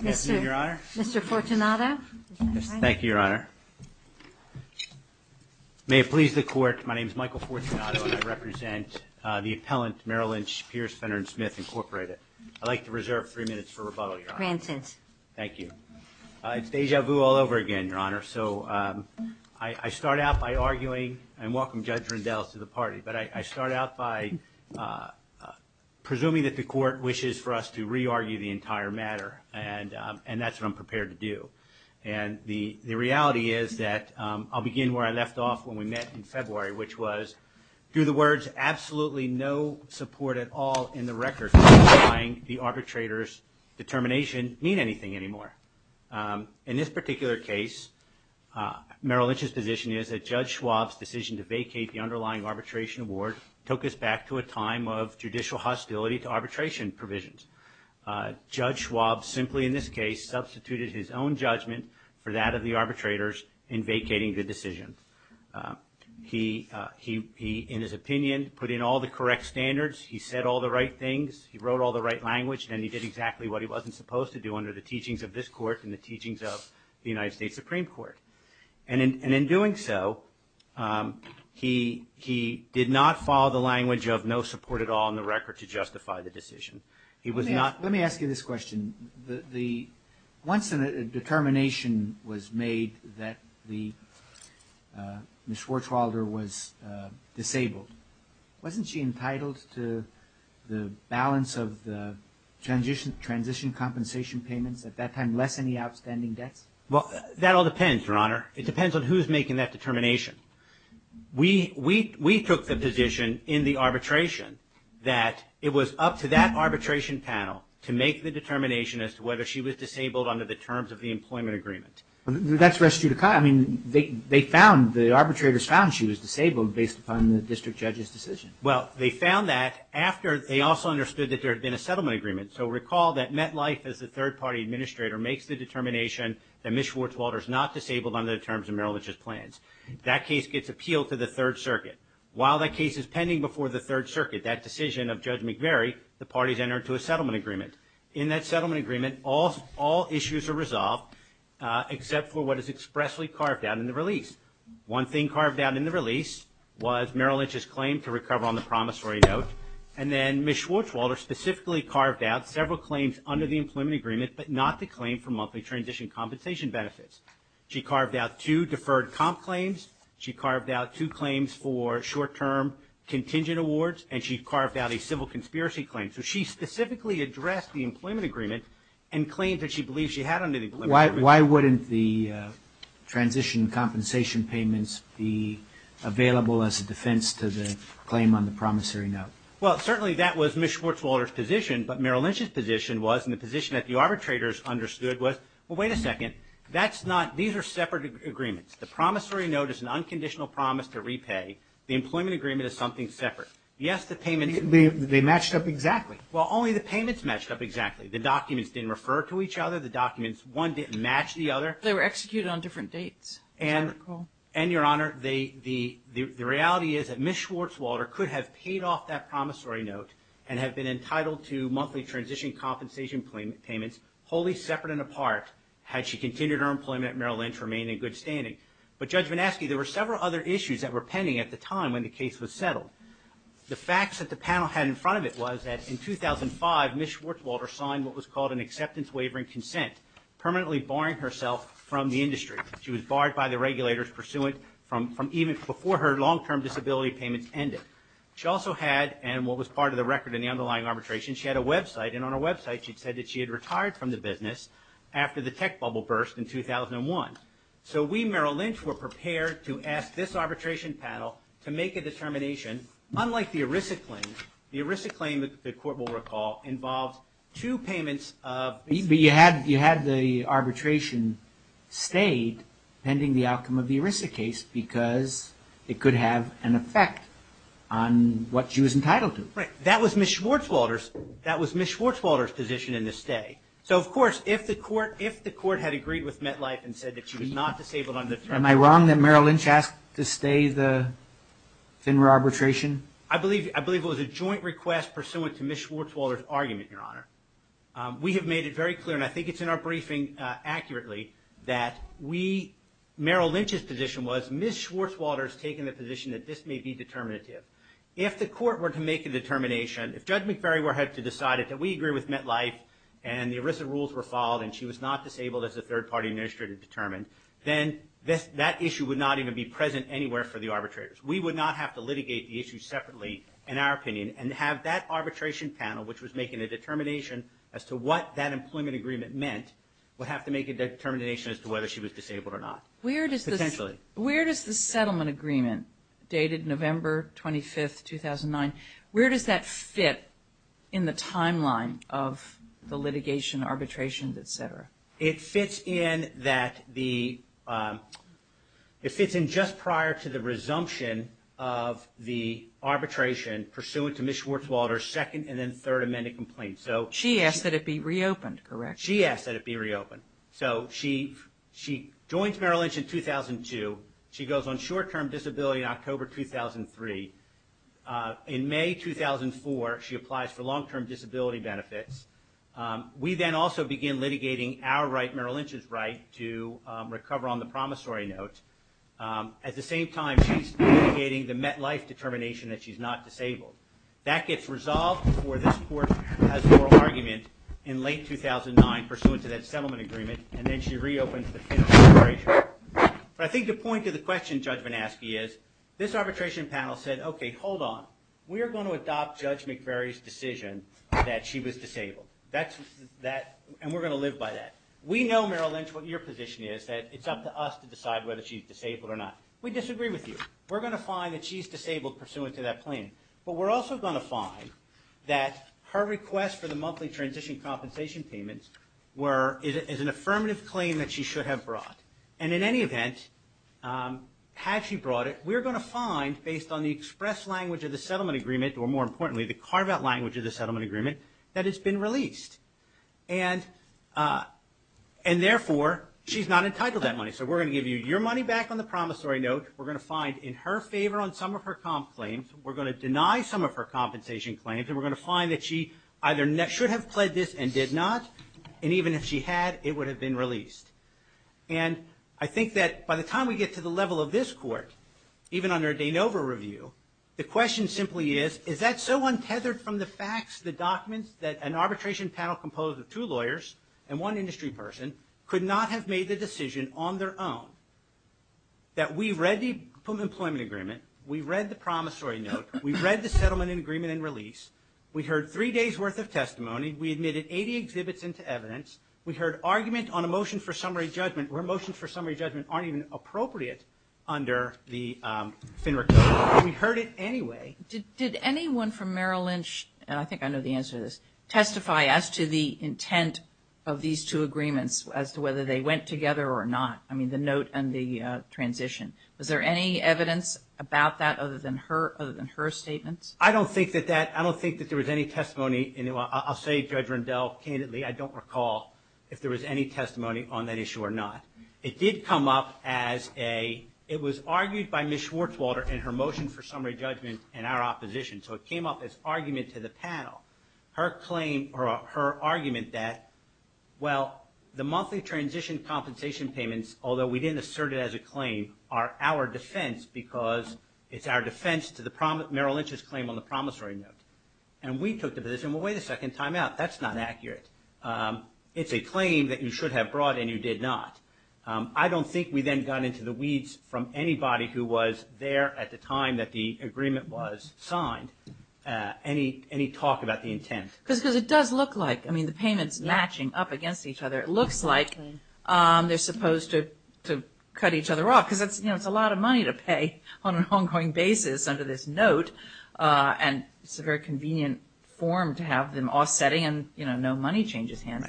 Mr. Fortunato. Thank you, Your Honor. May it please the court, my name is Michael Fortunato and I represent the appellant Merrill Lynch Pierce, Fenner, and Smith, Incorporated. I'd like to reserve three minutes for rebuttal, Your Honor. Grants it. Thank you. It's deja vu all over again, Your Honor, so I start out by arguing, and welcome Judge Rundell to the party, but I start out by presuming that the court wishes for us to re-argue the entire matter, and that's what I'm prepared to do. And the reality is that I'll begin where I left off when we met in February, which was, through the words, absolutely no support at all in the record for underlying the arbitrator's determination mean anything anymore. In this particular case, Merrill Lynch's position is that Judge Schwab's decision to vacate the underlying arbitration award took us back to a time of judicial hostility to arbitration provisions. Judge Schwab simply, in this case, substituted his own judgment for that of the arbitrators in vacating the decision. He, in his opinion, put in all the correct standards, he said all the right things, he wrote all the right language, and he did exactly what he wasn't supposed to do under the teachings of this court and the teachings of the United States Supreme Court. And in doing so, he did not follow the language of no support at all in the record to justify the decision. He was not... Let me ask you this question. Once a determination was made that Ms. Schwarzwalder was disabled, wasn't she entitled to the balance of the transition compensation payments at that time, less any outstanding debts? Well, that all depends, Your Honor. It depends on who's making that determination. We took the position in the arbitration that it was up to that arbitration panel to make the determination as to whether she was disabled under the terms of the employment agreement. That's res judicata. I mean, they found, the arbitrators found she was disabled based upon the district judge's decision. Well, they found that after they also understood that there had been a settlement agreement. So recall that MetLife, as the third-party administrator, makes the determination that Ms. Schwarzwalder's not disabled under the terms of Merrill Lynch's plans. That case gets appealed to the Third Circuit. While that case is pending before the Third Circuit, that decision of Judge McVeary, the parties enter into a settlement agreement. In that settlement agreement, all issues are resolved except for what is expressly carved out in the release. One thing carved out in the release was Merrill Lynch's claim to recover on the promissory note, and then Ms. Schwarzwalder specifically carved out several claims under the employment agreement, but not the claim for monthly transition compensation benefits. She carved out two deferred comp claims. She carved out two claims for short-term contingent awards, and she carved out a civil conspiracy claim. So she specifically addressed the employment agreement and claimed that she believed she had under the employment agreement. Why wouldn't the transition compensation payments be available as a defense to the claim on the promissory note? Well, certainly that was Ms. Schwarzwalder's position, but Merrill Lynch's position was, and the position that the arbitrators understood was, well, wait a second. That's not – these are separate agreements. The promissory note is an unconditional promise to repay. The employment agreement is something separate. Yes, the payments – They matched up exactly. Well, only the payments matched up exactly. The documents didn't refer to each other. The documents – one didn't match the other. They were executed on different dates, as I recall. And, Your Honor, the reality is that Ms. Schwarzwalder could have paid off that promissory note and have been entitled to monthly transition compensation payments wholly separate and apart had she continued her employment at Merrill Lynch, remained in good standing. But, Judge VanAskey, there were several other issues that were pending at the time when the case was settled. The facts that the panel had in front of it was that in 2005, Ms. Schwarzwalder signed what was called an acceptance wavering consent, permanently barring herself from the industry. She was barred by the regulators pursuant from even before her long-term disability payments ended. She also had – and what was part of the record in the underlying arbitration – she had a website. And on her website, she said that she had retired from the business after the tech bubble burst in 2001. So we, Merrill Lynch, were prepared to ask this arbitration panel to make a determination unlike the ERISA claim. The ERISA claim, the Court will recall, involved two payments of – But you had the arbitration stayed pending the outcome of the ERISA case because it could have an effect on what she was entitled to. Right. That was Ms. Schwarzwalder's – that was Ms. Schwarzwalder's position in the stay. So, of course, if the Court – if the Court had agreed with MetLife and said that she was not disabled under – Am I wrong that Merrill Lynch asked to stay the FINRA arbitration? I believe it was a joint request pursuant to Ms. Schwarzwalder's argument, Your Honor. We have made it very clear, and I think it's in our briefing accurately, that we – Merrill that this may be determinative. If the Court were to make a determination, if Judge McVery had to decide that we agree with MetLife and the ERISA rules were followed and she was not disabled as a third-party administrator determined, then that issue would not even be present anywhere for the arbitrators. We would not have to litigate the issue separately, in our opinion, and have that arbitration panel, which was making a determination as to what that employment agreement meant, would have to make a determination as to whether she was disabled or not, potentially. Where does the settlement agreement, dated November 25, 2009, where does that fit in the timeline of the litigation, arbitration, et cetera? It fits in that the – it fits in just prior to the resumption of the arbitration pursuant to Ms. Schwarzwalder's second and then third amended complaint. She asked that it be reopened, correct? She asked that it be reopened. So she joins Merrill Lynch in 2002. She goes on short-term disability in October 2003. In May 2004, she applies for long-term disability benefits. We then also begin litigating our right, Merrill Lynch's right, to recover on the promissory note. At the same time, she's litigating the MetLife determination that she's not disabled. That gets resolved before this court has a moral argument in late 2009 pursuant to that settlement agreement, and then she reopens to finish the arbitration. But I think the point of the question Judge Manaske is, this arbitration panel said, okay, hold on. We are going to adopt Judge McVeary's decision that she was disabled. That's – and we're going to live by that. We know, Merrill Lynch, what your position is, that it's up to us to decide whether she's disabled or not. We disagree with you. We're going to find that she's disabled pursuant to that claim. But we're also going to find that her request for the monthly transition compensation payments were – is an affirmative claim that she should have brought. And in any event, had she brought it, we're going to find, based on the express language of the settlement agreement, or more importantly, the carve-out language of the settlement agreement, that it's been released. And therefore, she's not entitled to that money. So we're going to give you your money back on the promissory note. We're going to find in her favor on some of her comp claims. We're going to deny some of her compensation claims. And we're going to find that she either should have pled this and did not. And even if she had, it would have been released. And I think that by the time we get to the level of this Court, even under a De Novo review, the question simply is, is that so untethered from the facts, the documents, that an arbitration panel composed of two lawyers and one industry person could not have made the decision on their own that we've read the employment agreement, we've read the promissory note, we've read the settlement agreement and release, we heard three days' worth of testimony, we admitted 80 exhibits into evidence, we heard argument on a motion for summary judgment where motions for summary judgment aren't even appropriate under the FINRA code, but we heard it anyway. Did anyone from Merrill Lynch – and I think I know the answer to this – testify as to the intent of these two agreements as to whether they went together or not? I mean, the note and the transition. Was there any evidence about that other than her statements? I don't think that there was any testimony. I'll say, Judge Rendell, candidly, I don't recall if there was any testimony on that issue or not. It did come up as a – it was argued by Ms. Schwartzwalter in her motion for summary judgment in our opposition. So it came up as argument to the panel. Her claim – or her argument that, well, the monthly transition compensation payments, although we didn't assert it as a claim, are our defense because it's our defense to the Merrill Lynch's claim on the promissory note. And we took the position, well, wait a second, time out, that's not accurate. It's a claim that you should have brought and you did not. I don't think we then got into the weeds from anybody who was there at the time that the agreement was signed any talk about the intent. Because it does look like – I mean, the payments matching up against each other. It looks like they're supposed to cut each other off because it's a lot of money to pay on an ongoing basis under this note. And it's a very convenient form to have them all setting and no money changes hands.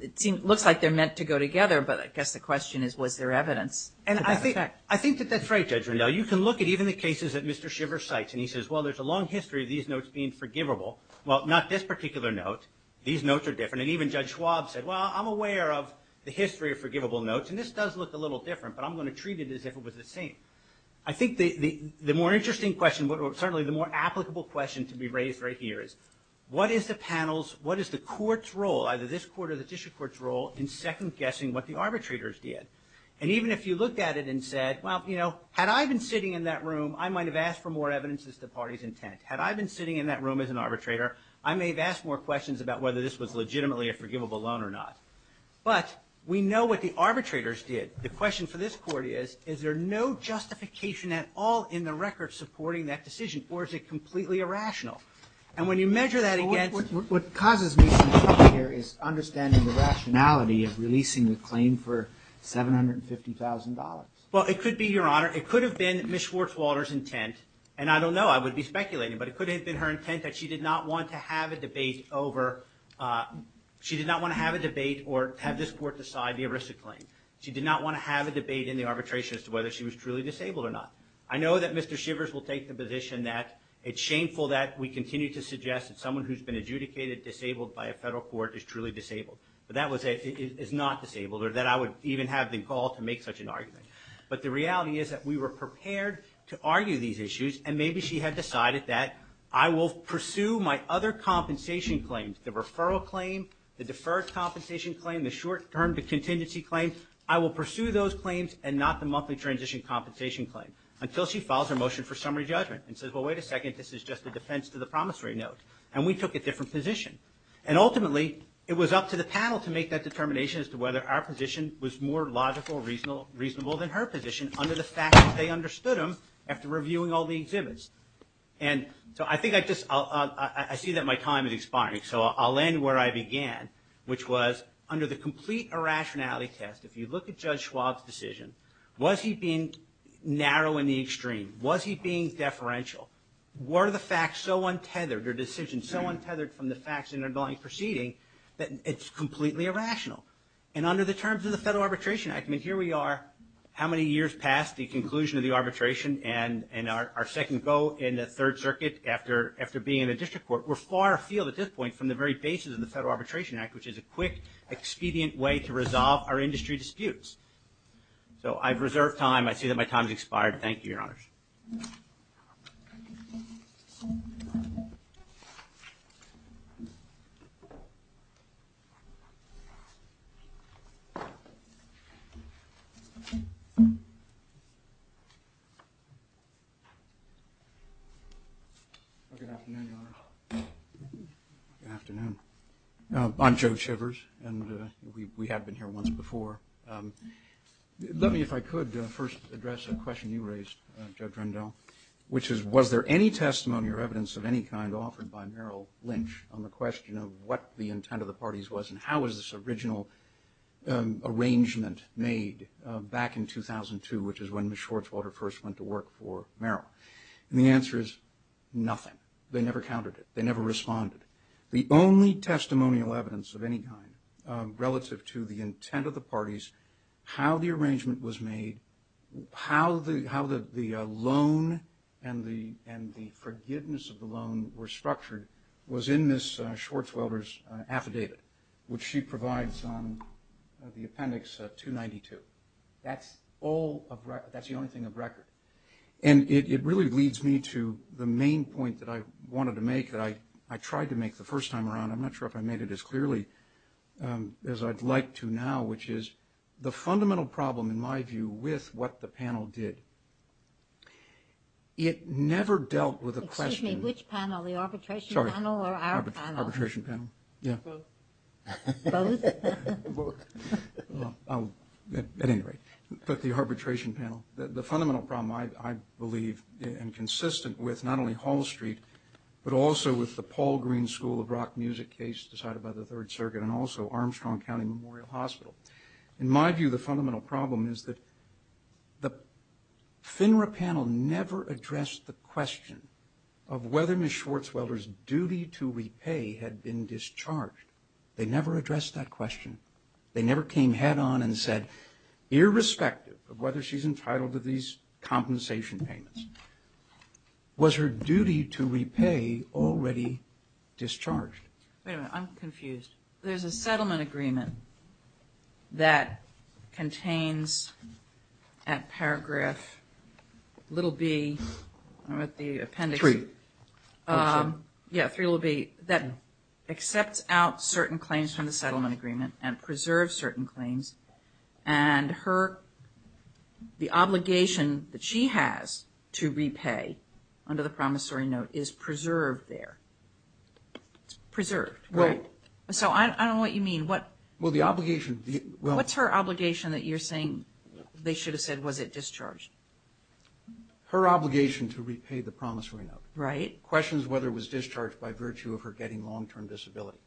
It looks like they're meant to go together, but I guess the question is, was there evidence? And I think that that's right, Judge Rendell. You can look at even the cases that Mr. Shiver cites, and he says, well, there's a long history of these notes being forgivable. Well, not this particular note. These notes are different. And even Judge Schwab said, well, I'm aware of the history of forgivable notes. And this does look a little different, but I'm going to treat it as if it was the same. I think the more interesting question, certainly the more applicable question to be raised right here is, what is the panel's – what is the court's role, either this court or the district court's role, in second-guessing what the arbitrators did? And even if you looked at it and said, well, you know, had I been sitting in that room, I might have asked for more evidence as to the party's intent. Had I been sitting in that room as an arbitrator, I may have asked more questions about whether this was legitimately a forgivable loan or not. But we know what the arbitrators did. The question for this court is, is there no justification at all in the record supporting that decision, or is it completely irrational? And when you measure that against – What causes me some trouble here is understanding the rationality of releasing the claim for $750,000. Well, it could be, Your Honor. It could have been Ms. Schwartzwalder's intent. And I don't know. I would be speculating. But it could have been her intent that she did not want to have a debate over – she did not want to have a debate or have this court decide the ERISA claim. She did not want to have a debate in the arbitration as to whether she was truly disabled or not. I know that Mr. Shivers will take the position that it's shameful that we continue to by a federal court is truly disabled. But that is not disabled, or that I would even have the gall to make such an argument. But the reality is that we were prepared to argue these issues, and maybe she had decided that, I will pursue my other compensation claims – the referral claim, the deferred compensation claim, the short-term contingency claim – I will pursue those claims and not the monthly transition compensation claim, until she files her motion for summary judgment and says, well, wait a second. This is just a defense to the promissory note. And we took a different position. And ultimately, it was up to the panel to make that determination as to whether our position was more logical, reasonable than her position under the fact that they understood them after reviewing all the exhibits. And so I think I just – I see that my time is expiring, so I'll end where I began, which was under the complete irrationality test, if you look at Judge Schwab's decision, was he being narrow in the extreme? Was he being deferential? Were the facts so untethered, or decisions so untethered from the facts in the underlying proceeding, that it's completely irrational? And under the terms of the Federal Arbitration Act – I mean, here we are, how many years past the conclusion of the arbitration and our second go in the Third Circuit after being in the district court. We're far afield at this point from the very basis of the Federal Arbitration Act, which is a quick, expedient way to resolve our industry disputes. So I've reserved time. I see that my time has expired. Thank you, Your Honors. Thank you. Good afternoon, Your Honor. Good afternoon. I'm Joe Shivers, and we have been here once before. Let me, if I could, first address a question you raised, Judge Rendell, which is, was there any testimony or evidence of any kind offered by Merrill Lynch on the question of what the intent of the parties was, and how was this original arrangement made back in 2002, which is when Ms. Schwartzwalter first went to work for Merrill? And the answer is, nothing. They never countered it. They never responded. The only testimonial evidence of any kind relative to the intent of the parties, how the arrangement was made, how the loan and the forgiveness of the loan were structured was in Ms. Schwartzwalter's affidavit, which she provides on the appendix 292. And it really leads me to the main point that I wanted to make, that I tried to make the first time around. I'm not sure if I made it as clearly as I'd like to now, which is the fundamental problem, in my view, with what the panel did, it never dealt with a question. Excuse me. Which panel? The arbitration panel or our panel? Sorry. Arbitration panel. Yeah. Both. Both? Well, at any rate, but the arbitration panel. The fundamental problem, I believe, and consistent with not only Hall Street, but also with the Paul Green School of Rock Music case decided by the Third Circuit and also Armstrong County Memorial Hospital. In my view, the fundamental problem is that the FINRA panel never addressed the question of whether Ms. Schwartzwalter's duty to repay had been discharged. They never addressed that question. They never came head on and said, irrespective of whether she's entitled to these compensation payments, was her duty to repay already discharged? Wait a minute. I'm confused. There's a settlement agreement that contains at paragraph little b, I'm at the appendix. Three. Yeah, three little b. That accepts out certain claims from the settlement agreement and preserves certain claims. And the obligation that she has to repay under the promissory note is preserved there. Preserved. Right. So I don't know what you mean. What's her obligation that you're saying they should have said was it discharged? Her obligation to repay the promissory note. Right. The question is whether it was discharged by virtue of her getting long-term disability.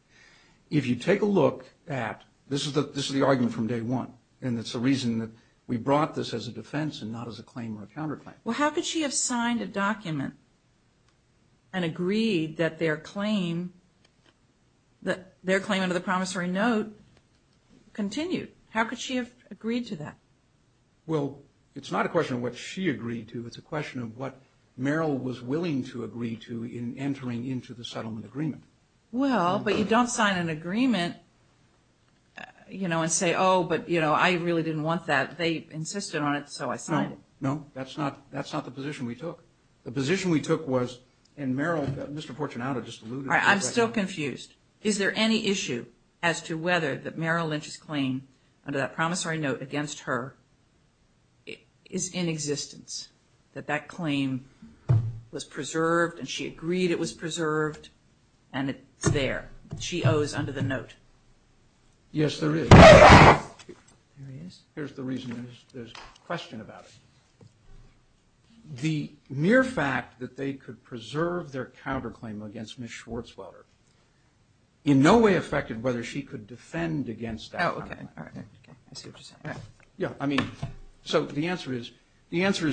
If you take a look at, this is the argument from day one, and it's the reason that we brought this as a defense and not as a claim or a counterclaim. Well, how could she have signed a document and agreed that their claim under the promissory note continued? How could she have agreed to that? Well, it's not a question of what she agreed to. It's a question of what Merrill was willing to agree to in entering into the settlement agreement. Well, but you don't sign an agreement and say, oh, but I really didn't want that. They insisted on it, so I signed it. No, no. That's not the position we took. The position we took was, and Merrill, Mr. Portunato just alluded to that question. I'm still confused. Is there any issue as to whether that Merrill Lynch's claim under that promissory note against her is in existence? That that claim was preserved, and she agreed it was preserved, and it's there. She owes under the note. Yes, there is. There is? Here's the reason. There's a question about it. The mere fact that they could preserve their counterclaim against Ms. Schwartzwelder in no way affected whether she could defend against that. Oh, OK. All right. I see what you're saying. Yeah. I mean, so the answer is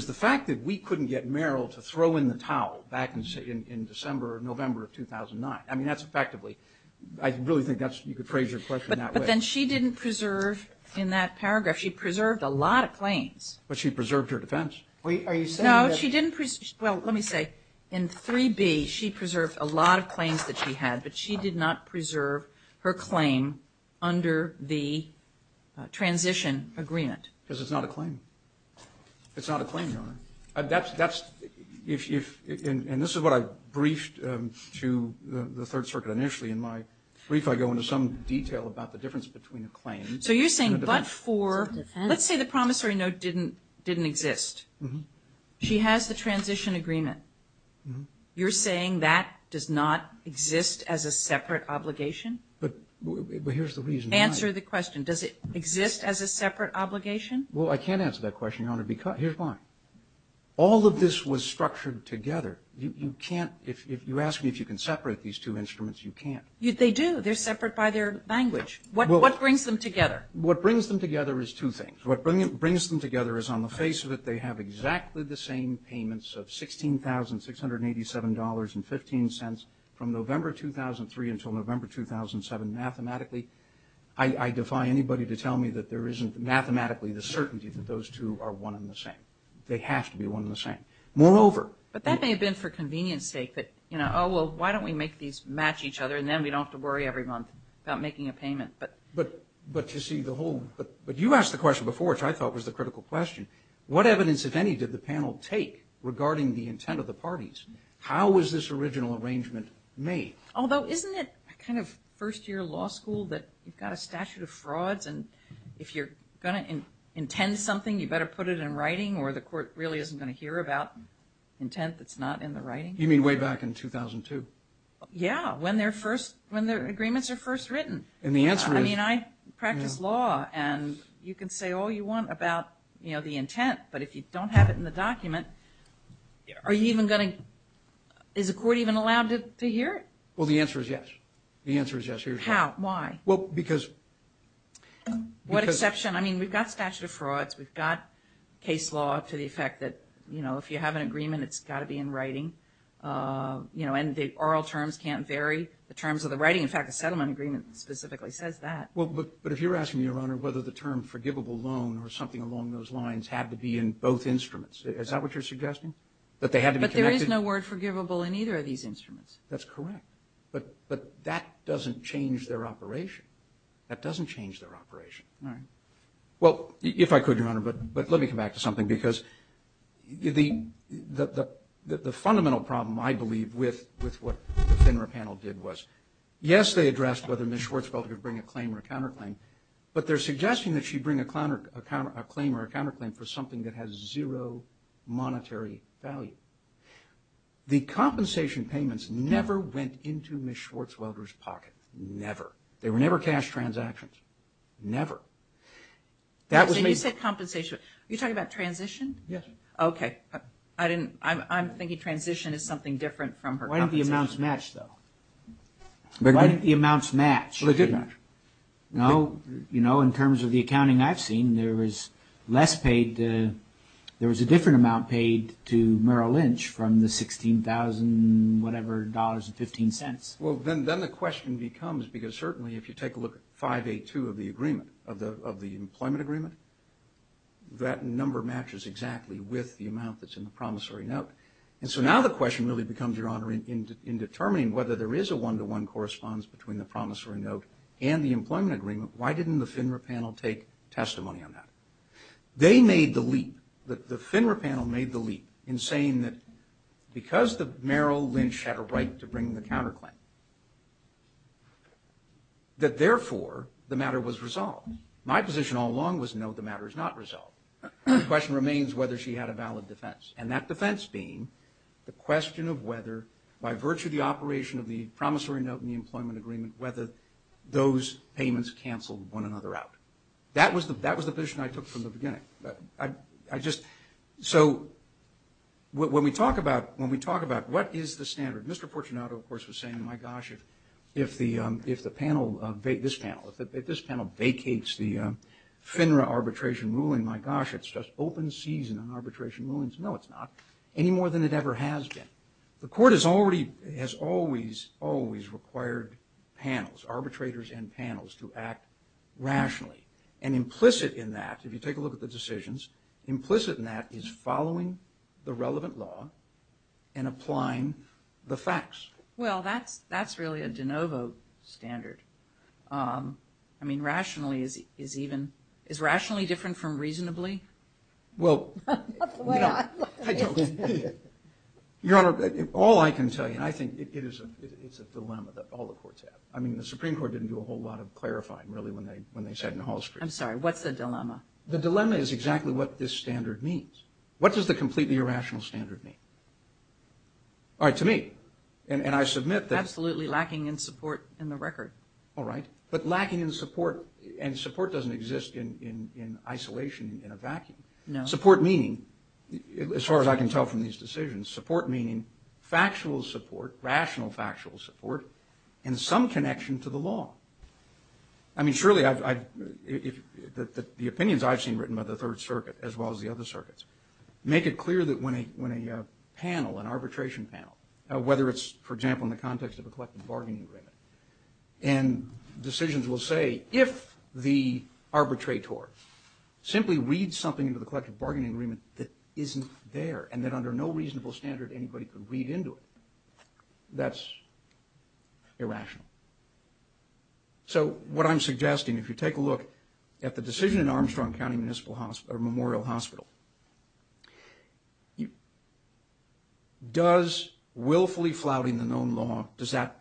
the fact that we couldn't get Merrill to throw in the towel back in December or November of 2009. I mean, that's effectively – I really think that's – you could phrase your question that way. But then she didn't preserve in that paragraph. She preserved a lot of claims. But she preserved her defense. Are you saying that – No, she didn't – well, let me say. In 3B, she preserved a lot of claims that she had, but she did not preserve her claim under the transition agreement. Because it's not a claim. It's not a claim, Your Honor. That's – if – and this is what I briefed to the Third Circuit initially. In my brief, I go into some detail about the difference between a claim and a defense. So you're saying but for – let's say the promissory note didn't exist. Mm-hmm. She has the transition agreement. Mm-hmm. You're saying that does not exist as a separate obligation? But here's the reason why. Answer the question. Does it exist as a separate obligation? Well, I can't answer that question, Your Honor, because – here's why. All of this was structured together. You can't – if you ask me if you can separate these two instruments, you can't. They do. They're separate by their language. Well – What brings them together? What brings them together is two things. What brings them together is on the face of it, they have exactly the same payments of $16,687.15 from November 2003 until November 2007. Mathematically, I defy anybody to tell me that there isn't mathematically the certainty that those two are one and the same. They have to be one and the same. Moreover – But that may have been for convenience's sake that, you know, oh, well, why don't we make these match each other and then we don't have to worry every month about making a payment. But – But to see the whole – but you asked the question before, which I thought was the critical question. What evidence, if any, did the panel take regarding the intent of the parties? How was this original arrangement made? Although, isn't it kind of first-year law school that you've got a statute of frauds and if you're going to intend something, you better put it in writing or the court really isn't going to hear about intent that's not in the writing? You mean way back in 2002? Yeah, when their first – when their agreements are first written. And the answer is – I mean, I practice law and you can say all you want about the intent. But if you don't have it in the document, are you even going to – is the court even allowed to hear it? Well, the answer is yes. The answer is yes. Here's why. How? Why? Well, because – What exception? I mean, we've got statute of frauds. We've got case law to the effect that if you have an agreement, it's got to be in writing. And the oral terms can't vary. The terms of the writing – in fact, the settlement agreement specifically says that. Well, but if you're asking me, Your Honor, whether the term forgivable loan or something along those lines had to be in both instruments, is that what you're suggesting? That they had to be connected? But there is no word forgivable in either of these instruments. That's correct. But that doesn't change their operation. That doesn't change their operation. All right. Well, if I could, Your Honor, but let me come back to something because the fundamental problem, I believe, with what the FINRA panel did was, yes, they addressed whether Ms. Schwartzwelder could bring a claim or a counterclaim, but they're suggesting that she bring a claim or a counterclaim for something that has zero monetary value. The compensation payments never went into Ms. Schwartzwelder's pocket. Never. They were never cash transactions. Never. That was – So you said compensation. Are you talking about transition? Yes. Okay. I didn't – I'm thinking transition is something different from her compensation. Why didn't the amounts match, though? Why didn't the amounts match? Well, they did match. No. You know, in terms of the accounting I've seen, there was less paid to – there was a different amount paid to Merrill Lynch from the $16,000-whatever dollars and 15 cents. Well, then the question becomes – because certainly, if you take a look at 582 of the employment agreement, that number matches exactly with the amount that's in the promissory note. And so now the question really becomes, Your Honor, in determining whether there is a one-to-one corresponds between the promissory note and the employment agreement, why didn't the FINRA panel take testimony on that? They made the leap – the FINRA panel made the leap in saying that because Merrill Lynch had a right to bring the counterclaim, that therefore, the matter was resolved. My position all along was, no, the matter is not resolved. The question remains whether she had a valid defense. And that defense being the question of whether, by virtue of the operation of the promissory note and the employment agreement, whether those payments canceled one another out. That was the position I took from the beginning. I just – so when we talk about – when we talk about what is the standard, Mr. Fortunato, of course, was saying, my gosh, if the – if the panel – this panel – if this panel vacates the FINRA arbitration ruling, my gosh, it's just open season on arbitration rulings. No, it's not, any more than it ever has been. The court has already – has always, always required panels, arbitrators and panels, to act rationally. And implicit in that, if you take a look at the decisions, implicit in that is following the relevant law and applying the facts. Well, that's – that's really a de novo standard. I mean, rationally is even – is rationally different from reasonably? Well – That's the way I look at it. Your Honor, all I can tell you, and I think it is a – it's a dilemma that all the courts have. I mean, the Supreme Court didn't do a whole lot of clarifying, really, when they – when they sat in Hall Street. I'm sorry. What's the dilemma? The dilemma is exactly what this standard means. What does the completely irrational standard mean? All right, to me. And I submit that – Absolutely lacking in support in the record. All right. But lacking in support – and support doesn't exist in isolation, in a vacuum. No. Support meaning, as far as I can tell from these decisions, support meaning factual support, rational factual support, and some connection to the law. I mean, surely I've – the opinions I've seen written by the Third Circuit, as well as the other circuits, make it clear that when a – when a panel, an arbitration panel, whether it's, for example, in the context of a collective bargaining agreement, and decisions will say, if the arbitrator simply reads something into the collective bargaining agreement that isn't there, and that under no reasonable standard anybody could read into it, that's irrational. So what I'm suggesting, if you take a look at the decision in Armstrong County Municipal Hospital – or Memorial Hospital, does willfully flouting the known law, does that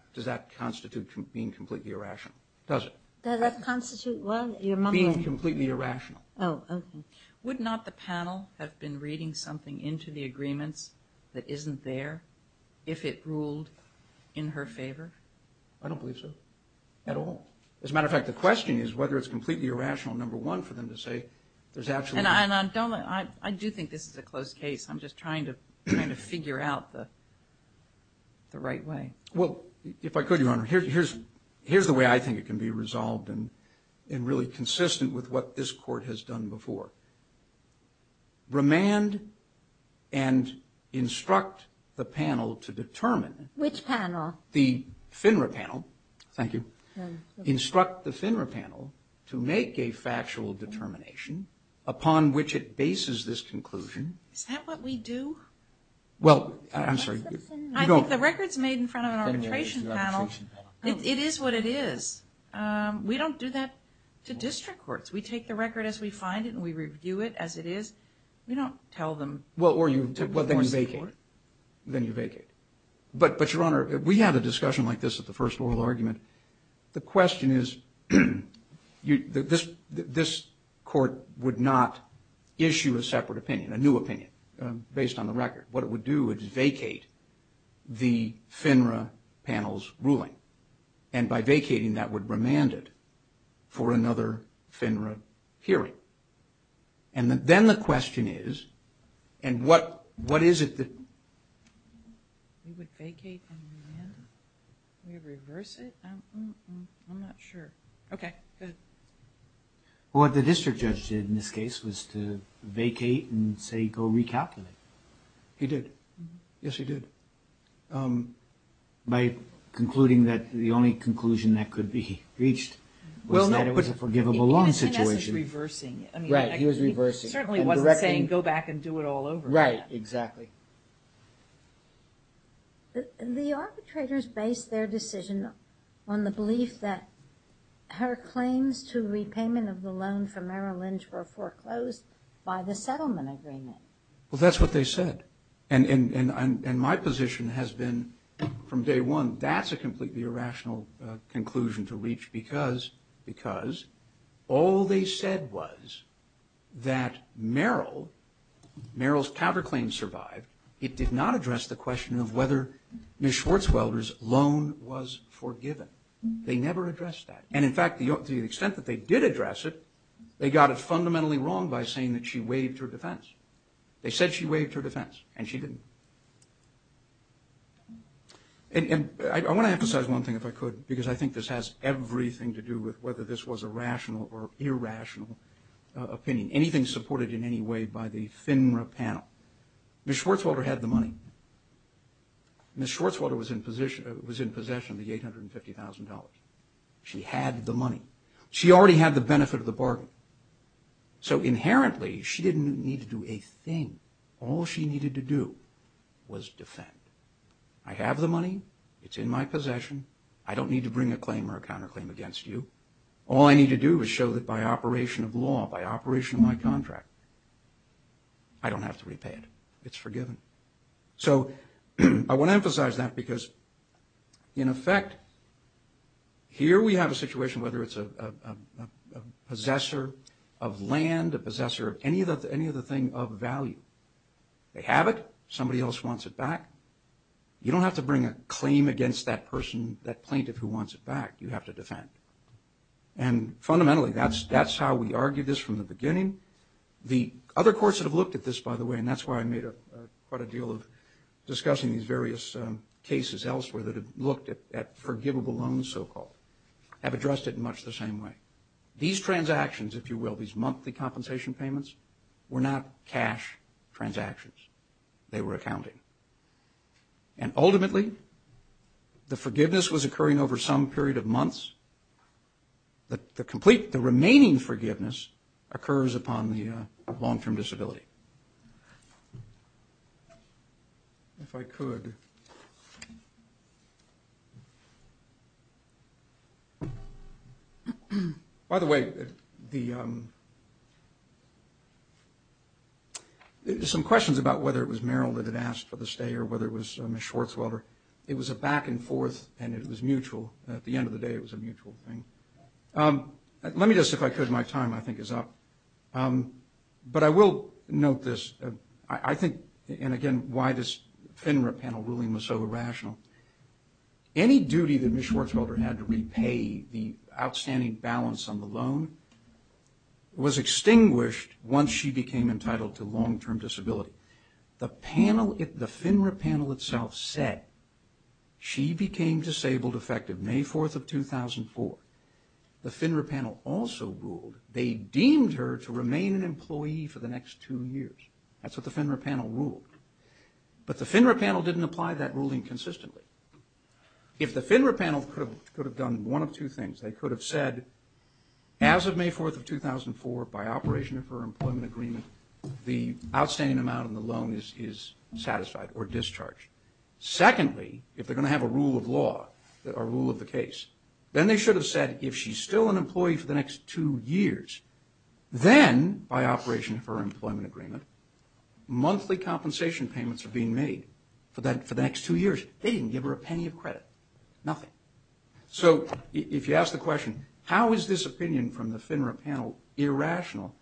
constitute being completely irrational? Does it? Does that constitute – well, your mom – Being completely irrational. Oh, okay. Would not the panel have been reading something into the agreements that isn't there if it ruled in her favor? I don't believe so at all. As a matter of fact, the question is whether it's completely irrational, number one, for them to say there's actually – And I don't – I do think this is a closed case. I'm just trying to figure out the right way. Well, if I could, Your Honor, here's the way I think it can be resolved and really consistent with what this Court has done before. Remand and instruct the panel to determine – Which panel? The FINRA panel. Thank you. Instruct the FINRA panel to make a factual determination upon which it bases this conclusion. Is that what we do? Well, I'm sorry. I think the record's made in front of an arbitration panel. It is what it is. We don't do that to district courts. We take the record as we find it and we review it as it is. We don't tell them to go to court. Well, or you take it and vacate. Then you vacate. But, Your Honor, we had a discussion like this at the first oral argument. The question is this court would not issue a separate opinion, a new opinion, based on the record. What it would do is vacate the FINRA panel's ruling. And by vacating, that would remand it for another FINRA hearing. And then the question is, and what is it that – We would vacate and remand? We would reverse it? I'm not sure. Okay, good. What the district judge did in this case was to vacate and say, go recalculate. He did. Yes, he did. By concluding that the only conclusion that could be reached was that it was a forgivable loan situation. I guess he was reversing it. Right, he was reversing. He certainly wasn't saying, go back and do it all over again. Right, exactly. The arbitrators based their decision on the belief that her claims to repayment of the loan for Merrill Lynch were foreclosed by the settlement agreement. Well, that's what they said. And my position has been from day one, that's a completely irrational conclusion to reach because all they said was that Merrill, Merrill's counterclaim survived. It did not address the question of whether Ms. Schwartzwelder's loan was forgiven. They never addressed that. And, in fact, to the extent that they did address it, they got it fundamentally wrong by saying that she waived her defense. They said she waived her defense, and she didn't. And I want to emphasize one thing, if I could, because I think this has everything to do with whether this was a rational or irrational opinion, anything supported in any way by the FINRA panel. Ms. Schwartzwelder had the money. Ms. Schwartzwelder was in possession of the $850,000. She had the money. She already had the benefit of the bargain. So inherently, she didn't need to do a thing. All she needed to do was defend. I have the money. It's in my possession. I don't need to bring a claim or a counterclaim against you. All I need to do is show that by operation of law, by operation of my contract, I don't have to repay it. It's forgiven. So I want to emphasize that because, in effect, here we have a situation, whether it's a possessor of land, a possessor of any other thing of value. They have it. Somebody else wants it back. You don't have to bring a claim against that person, that plaintiff who wants it back. You have to defend. And fundamentally, that's how we argued this from the beginning. The other courts that have looked at this, by the way, and that's why I made quite a deal of discussing these various cases elsewhere that have looked at forgivable loans, so-called, have addressed it in much the same way. These transactions, if you will, these monthly compensation payments, were not cash transactions. They were accounting. And ultimately, the forgiveness was occurring over some period of months. The remaining forgiveness occurs upon the long-term disability. Okay. If I could. By the way, some questions about whether it was Meryl that had asked for the stay or whether it was Ms. Schwarzweiler. It was a back and forth, and it was mutual. At the end of the day, it was a mutual thing. Let me just, if I could, my time, I think, is up. But I will note this. I think, and again, why this FINRA panel ruling was so irrational. Any duty that Ms. Schwarzweiler had to repay the outstanding balance on the loan was extinguished once she became entitled to long-term disability. The FINRA panel itself said she became disabled effective May 4th of 2004. The FINRA panel also ruled. They deemed her to remain an employee for the next two years. That's what the FINRA panel ruled. But the FINRA panel didn't apply that ruling consistently. If the FINRA panel could have done one of two things, they could have said, as of May 4th of 2004, by operation of her employment agreement, the outstanding amount on the loan is satisfied or discharged. Secondly, if they're going to have a rule of law, a rule of the case, then they should have said, if she's still an employee for the next two years, then by operation of her employment agreement, monthly compensation payments are being made for the next two years. They didn't give her a penny of credit, nothing. So if you ask the question, how is this opinion from the FINRA panel irrational,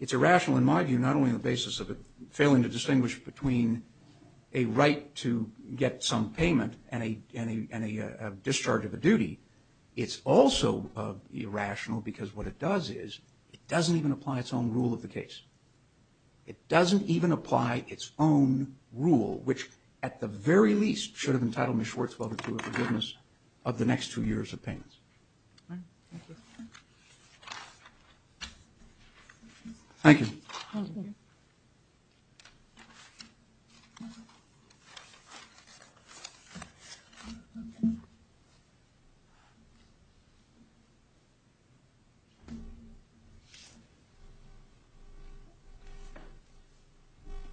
it's irrational in my view not only on the basis of it failing to distinguish between a right to get some payment and a discharge of a duty, it's also irrational because what it does is, it doesn't even apply its own rule of the case. It doesn't even apply its own rule, which at the very least should have entitled Ms. Schwartzwell to a forgiveness of the next two years of payments. Thank you.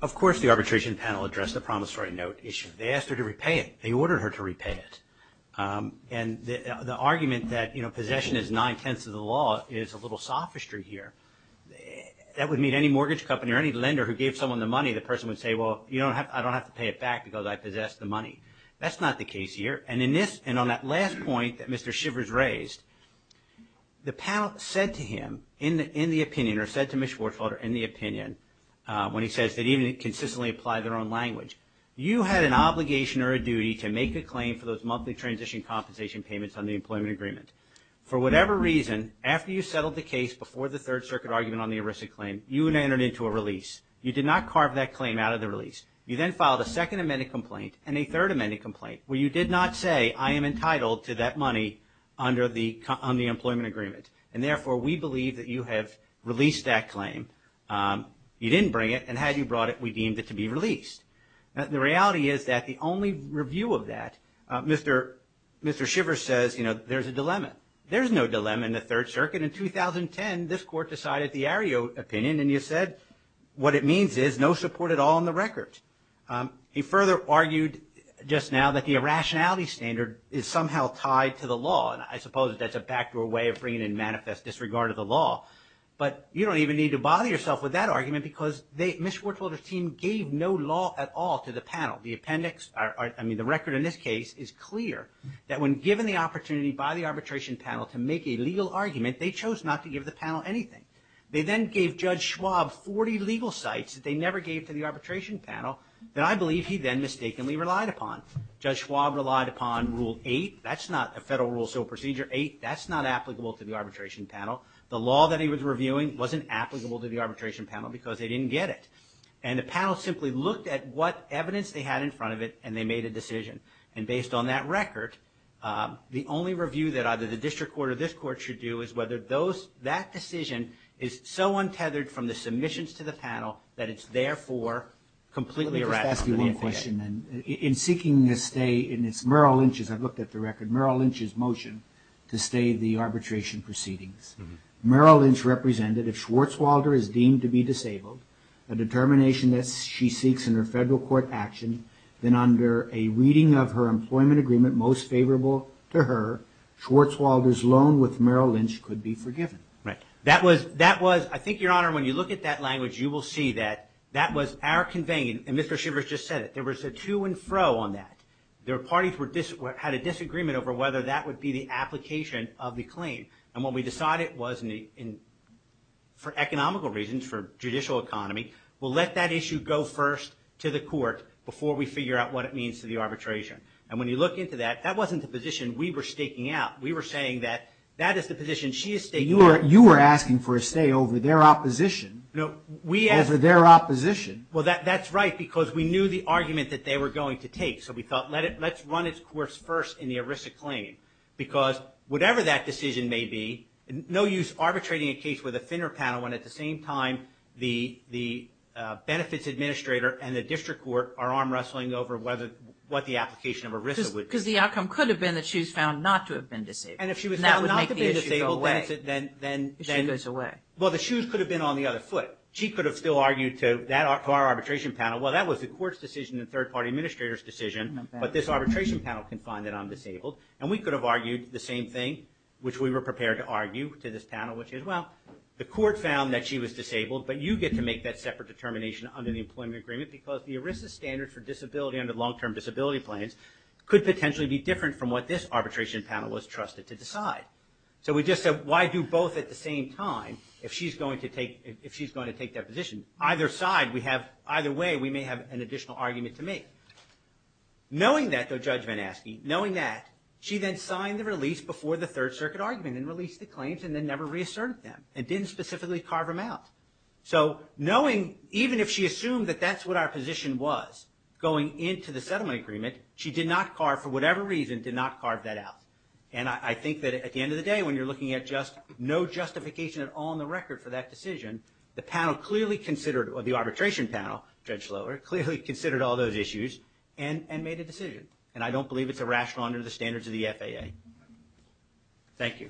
Of course the arbitration panel addressed the promissory note issue. They asked her to repay it. They ordered her to repay it. And the argument that possession is nine-tenths of the law is a little sophistry here. That would mean any mortgage company or any lender who gave someone the money, the person would say, well, I don't have to pay it back because I possess the money. That's not the case here. And on that last point that Mr. Shivers raised, the panel said to him in the opinion or said to Ms. Schwartzwell in the opinion when he says they didn't even consistently apply their own language, you had an obligation or a duty to make a claim for those monthly transition compensation payments on the employment agreement. For whatever reason, after you settled the case before the Third Circuit argument on the ERISA claim, you entered into a release. You did not carve that claim out of the release. You then filed a Second Amendment complaint and a Third Amendment complaint where you did not say, I am entitled to that money on the employment agreement. And therefore, we believe that you have released that claim. You didn't bring it. And had you brought it, we deemed it to be released. The reality is that the only review of that, Mr. Shivers says, you know, there's a dilemma. There's no dilemma in the Third Circuit. In 2010, this Court decided the ARIO opinion, and you said, what it means is no support at all on the record. He further argued just now that the irrationality standard is somehow tied to the law, and I suppose that's a backdoor way of bringing in manifest disregard of the law. But you don't even need to bother yourself with that argument because Ms. The appendix, I mean the record in this case, is clear that when given the opportunity by the arbitration panel to make a legal argument, they chose not to give the panel anything. They then gave Judge Schwab 40 legal sites that they never gave to the arbitration panel that I believe he then mistakenly relied upon. Judge Schwab relied upon Rule 8. That's not a federal rule, so Procedure 8, that's not applicable to the arbitration panel. The law that he was reviewing wasn't applicable to the arbitration panel because they didn't get it. And the panel simply looked at what evidence they had in front of it, and they made a decision. And based on that record, the only review that either the district court or this court should do is whether that decision is so untethered from the submissions to the panel that it's therefore completely irrational. Let me just ask you one question then. In seeking a stay in Merrill Lynch's, I've looked at the record, Merrill Lynch's motion to stay the arbitration proceedings, Merrill Lynch represented if Schwarzwalder is deemed to be disabled, a determination that she seeks in her federal court action, then under a reading of her employment agreement most favorable to her, Schwarzwalder's loan with Merrill Lynch could be forgiven. Right. That was, I think, Your Honor, when you look at that language, you will see that that was our conveying, and Mr. Schivers just said it, there was a to and fro on that. the claim. And what we decided was for economical reasons, for judicial economy, we'll let that issue go first to the court before we figure out what it means to the arbitration. And when you look into that, that wasn't the position we were staking out. We were saying that that is the position she is staking out. You were asking for a stay over their opposition. No, we asked. Over their opposition. Well, that's right because we knew the argument that they were going to take. So we thought let's run its course first in the ERISA claim because whatever that decision may be, no use arbitrating a case with a thinner panel when at the same time the benefits administrator and the district court are arm wrestling over what the application of ERISA would be. Because the outcome could have been that she was found not to have been disabled. And that would make the issue go away. And if she was found not to be disabled, then. The issue goes away. Well, the shoes could have been on the other foot. She could have still argued to our arbitration panel, well, that was the court's decision and the third party administrator's decision, but this arbitration panel can find that I'm disabled. And we could have argued the same thing, which we were prepared to argue to this panel, which is, well, the court found that she was disabled, but you get to make that separate determination under the employment agreement because the ERISA standard for disability under long-term disability plans could potentially be different from what this arbitration panel was trusted to decide. So we just said why do both at the same time if she's going to take that position. Either side, we have, either way, we may have an additional argument to make. Knowing that, though, Judge Van Aske, knowing that, she then signed the release before the Third Circuit argument and released the claims and then never reasserted them and didn't specifically carve them out. So knowing, even if she assumed that that's what our position was, going into the settlement agreement, she did not carve, for whatever reason, did not carve that out. And I think that at the end of the day when you're looking at just no justification at all in the record for that decision, the panel clearly considered, or the arbitration panel, Judge Slower, clearly considered all those issues and made a decision. And I don't believe it's irrational under the standards of the FAA. Thank you. Thank you. Thank you. Exactly.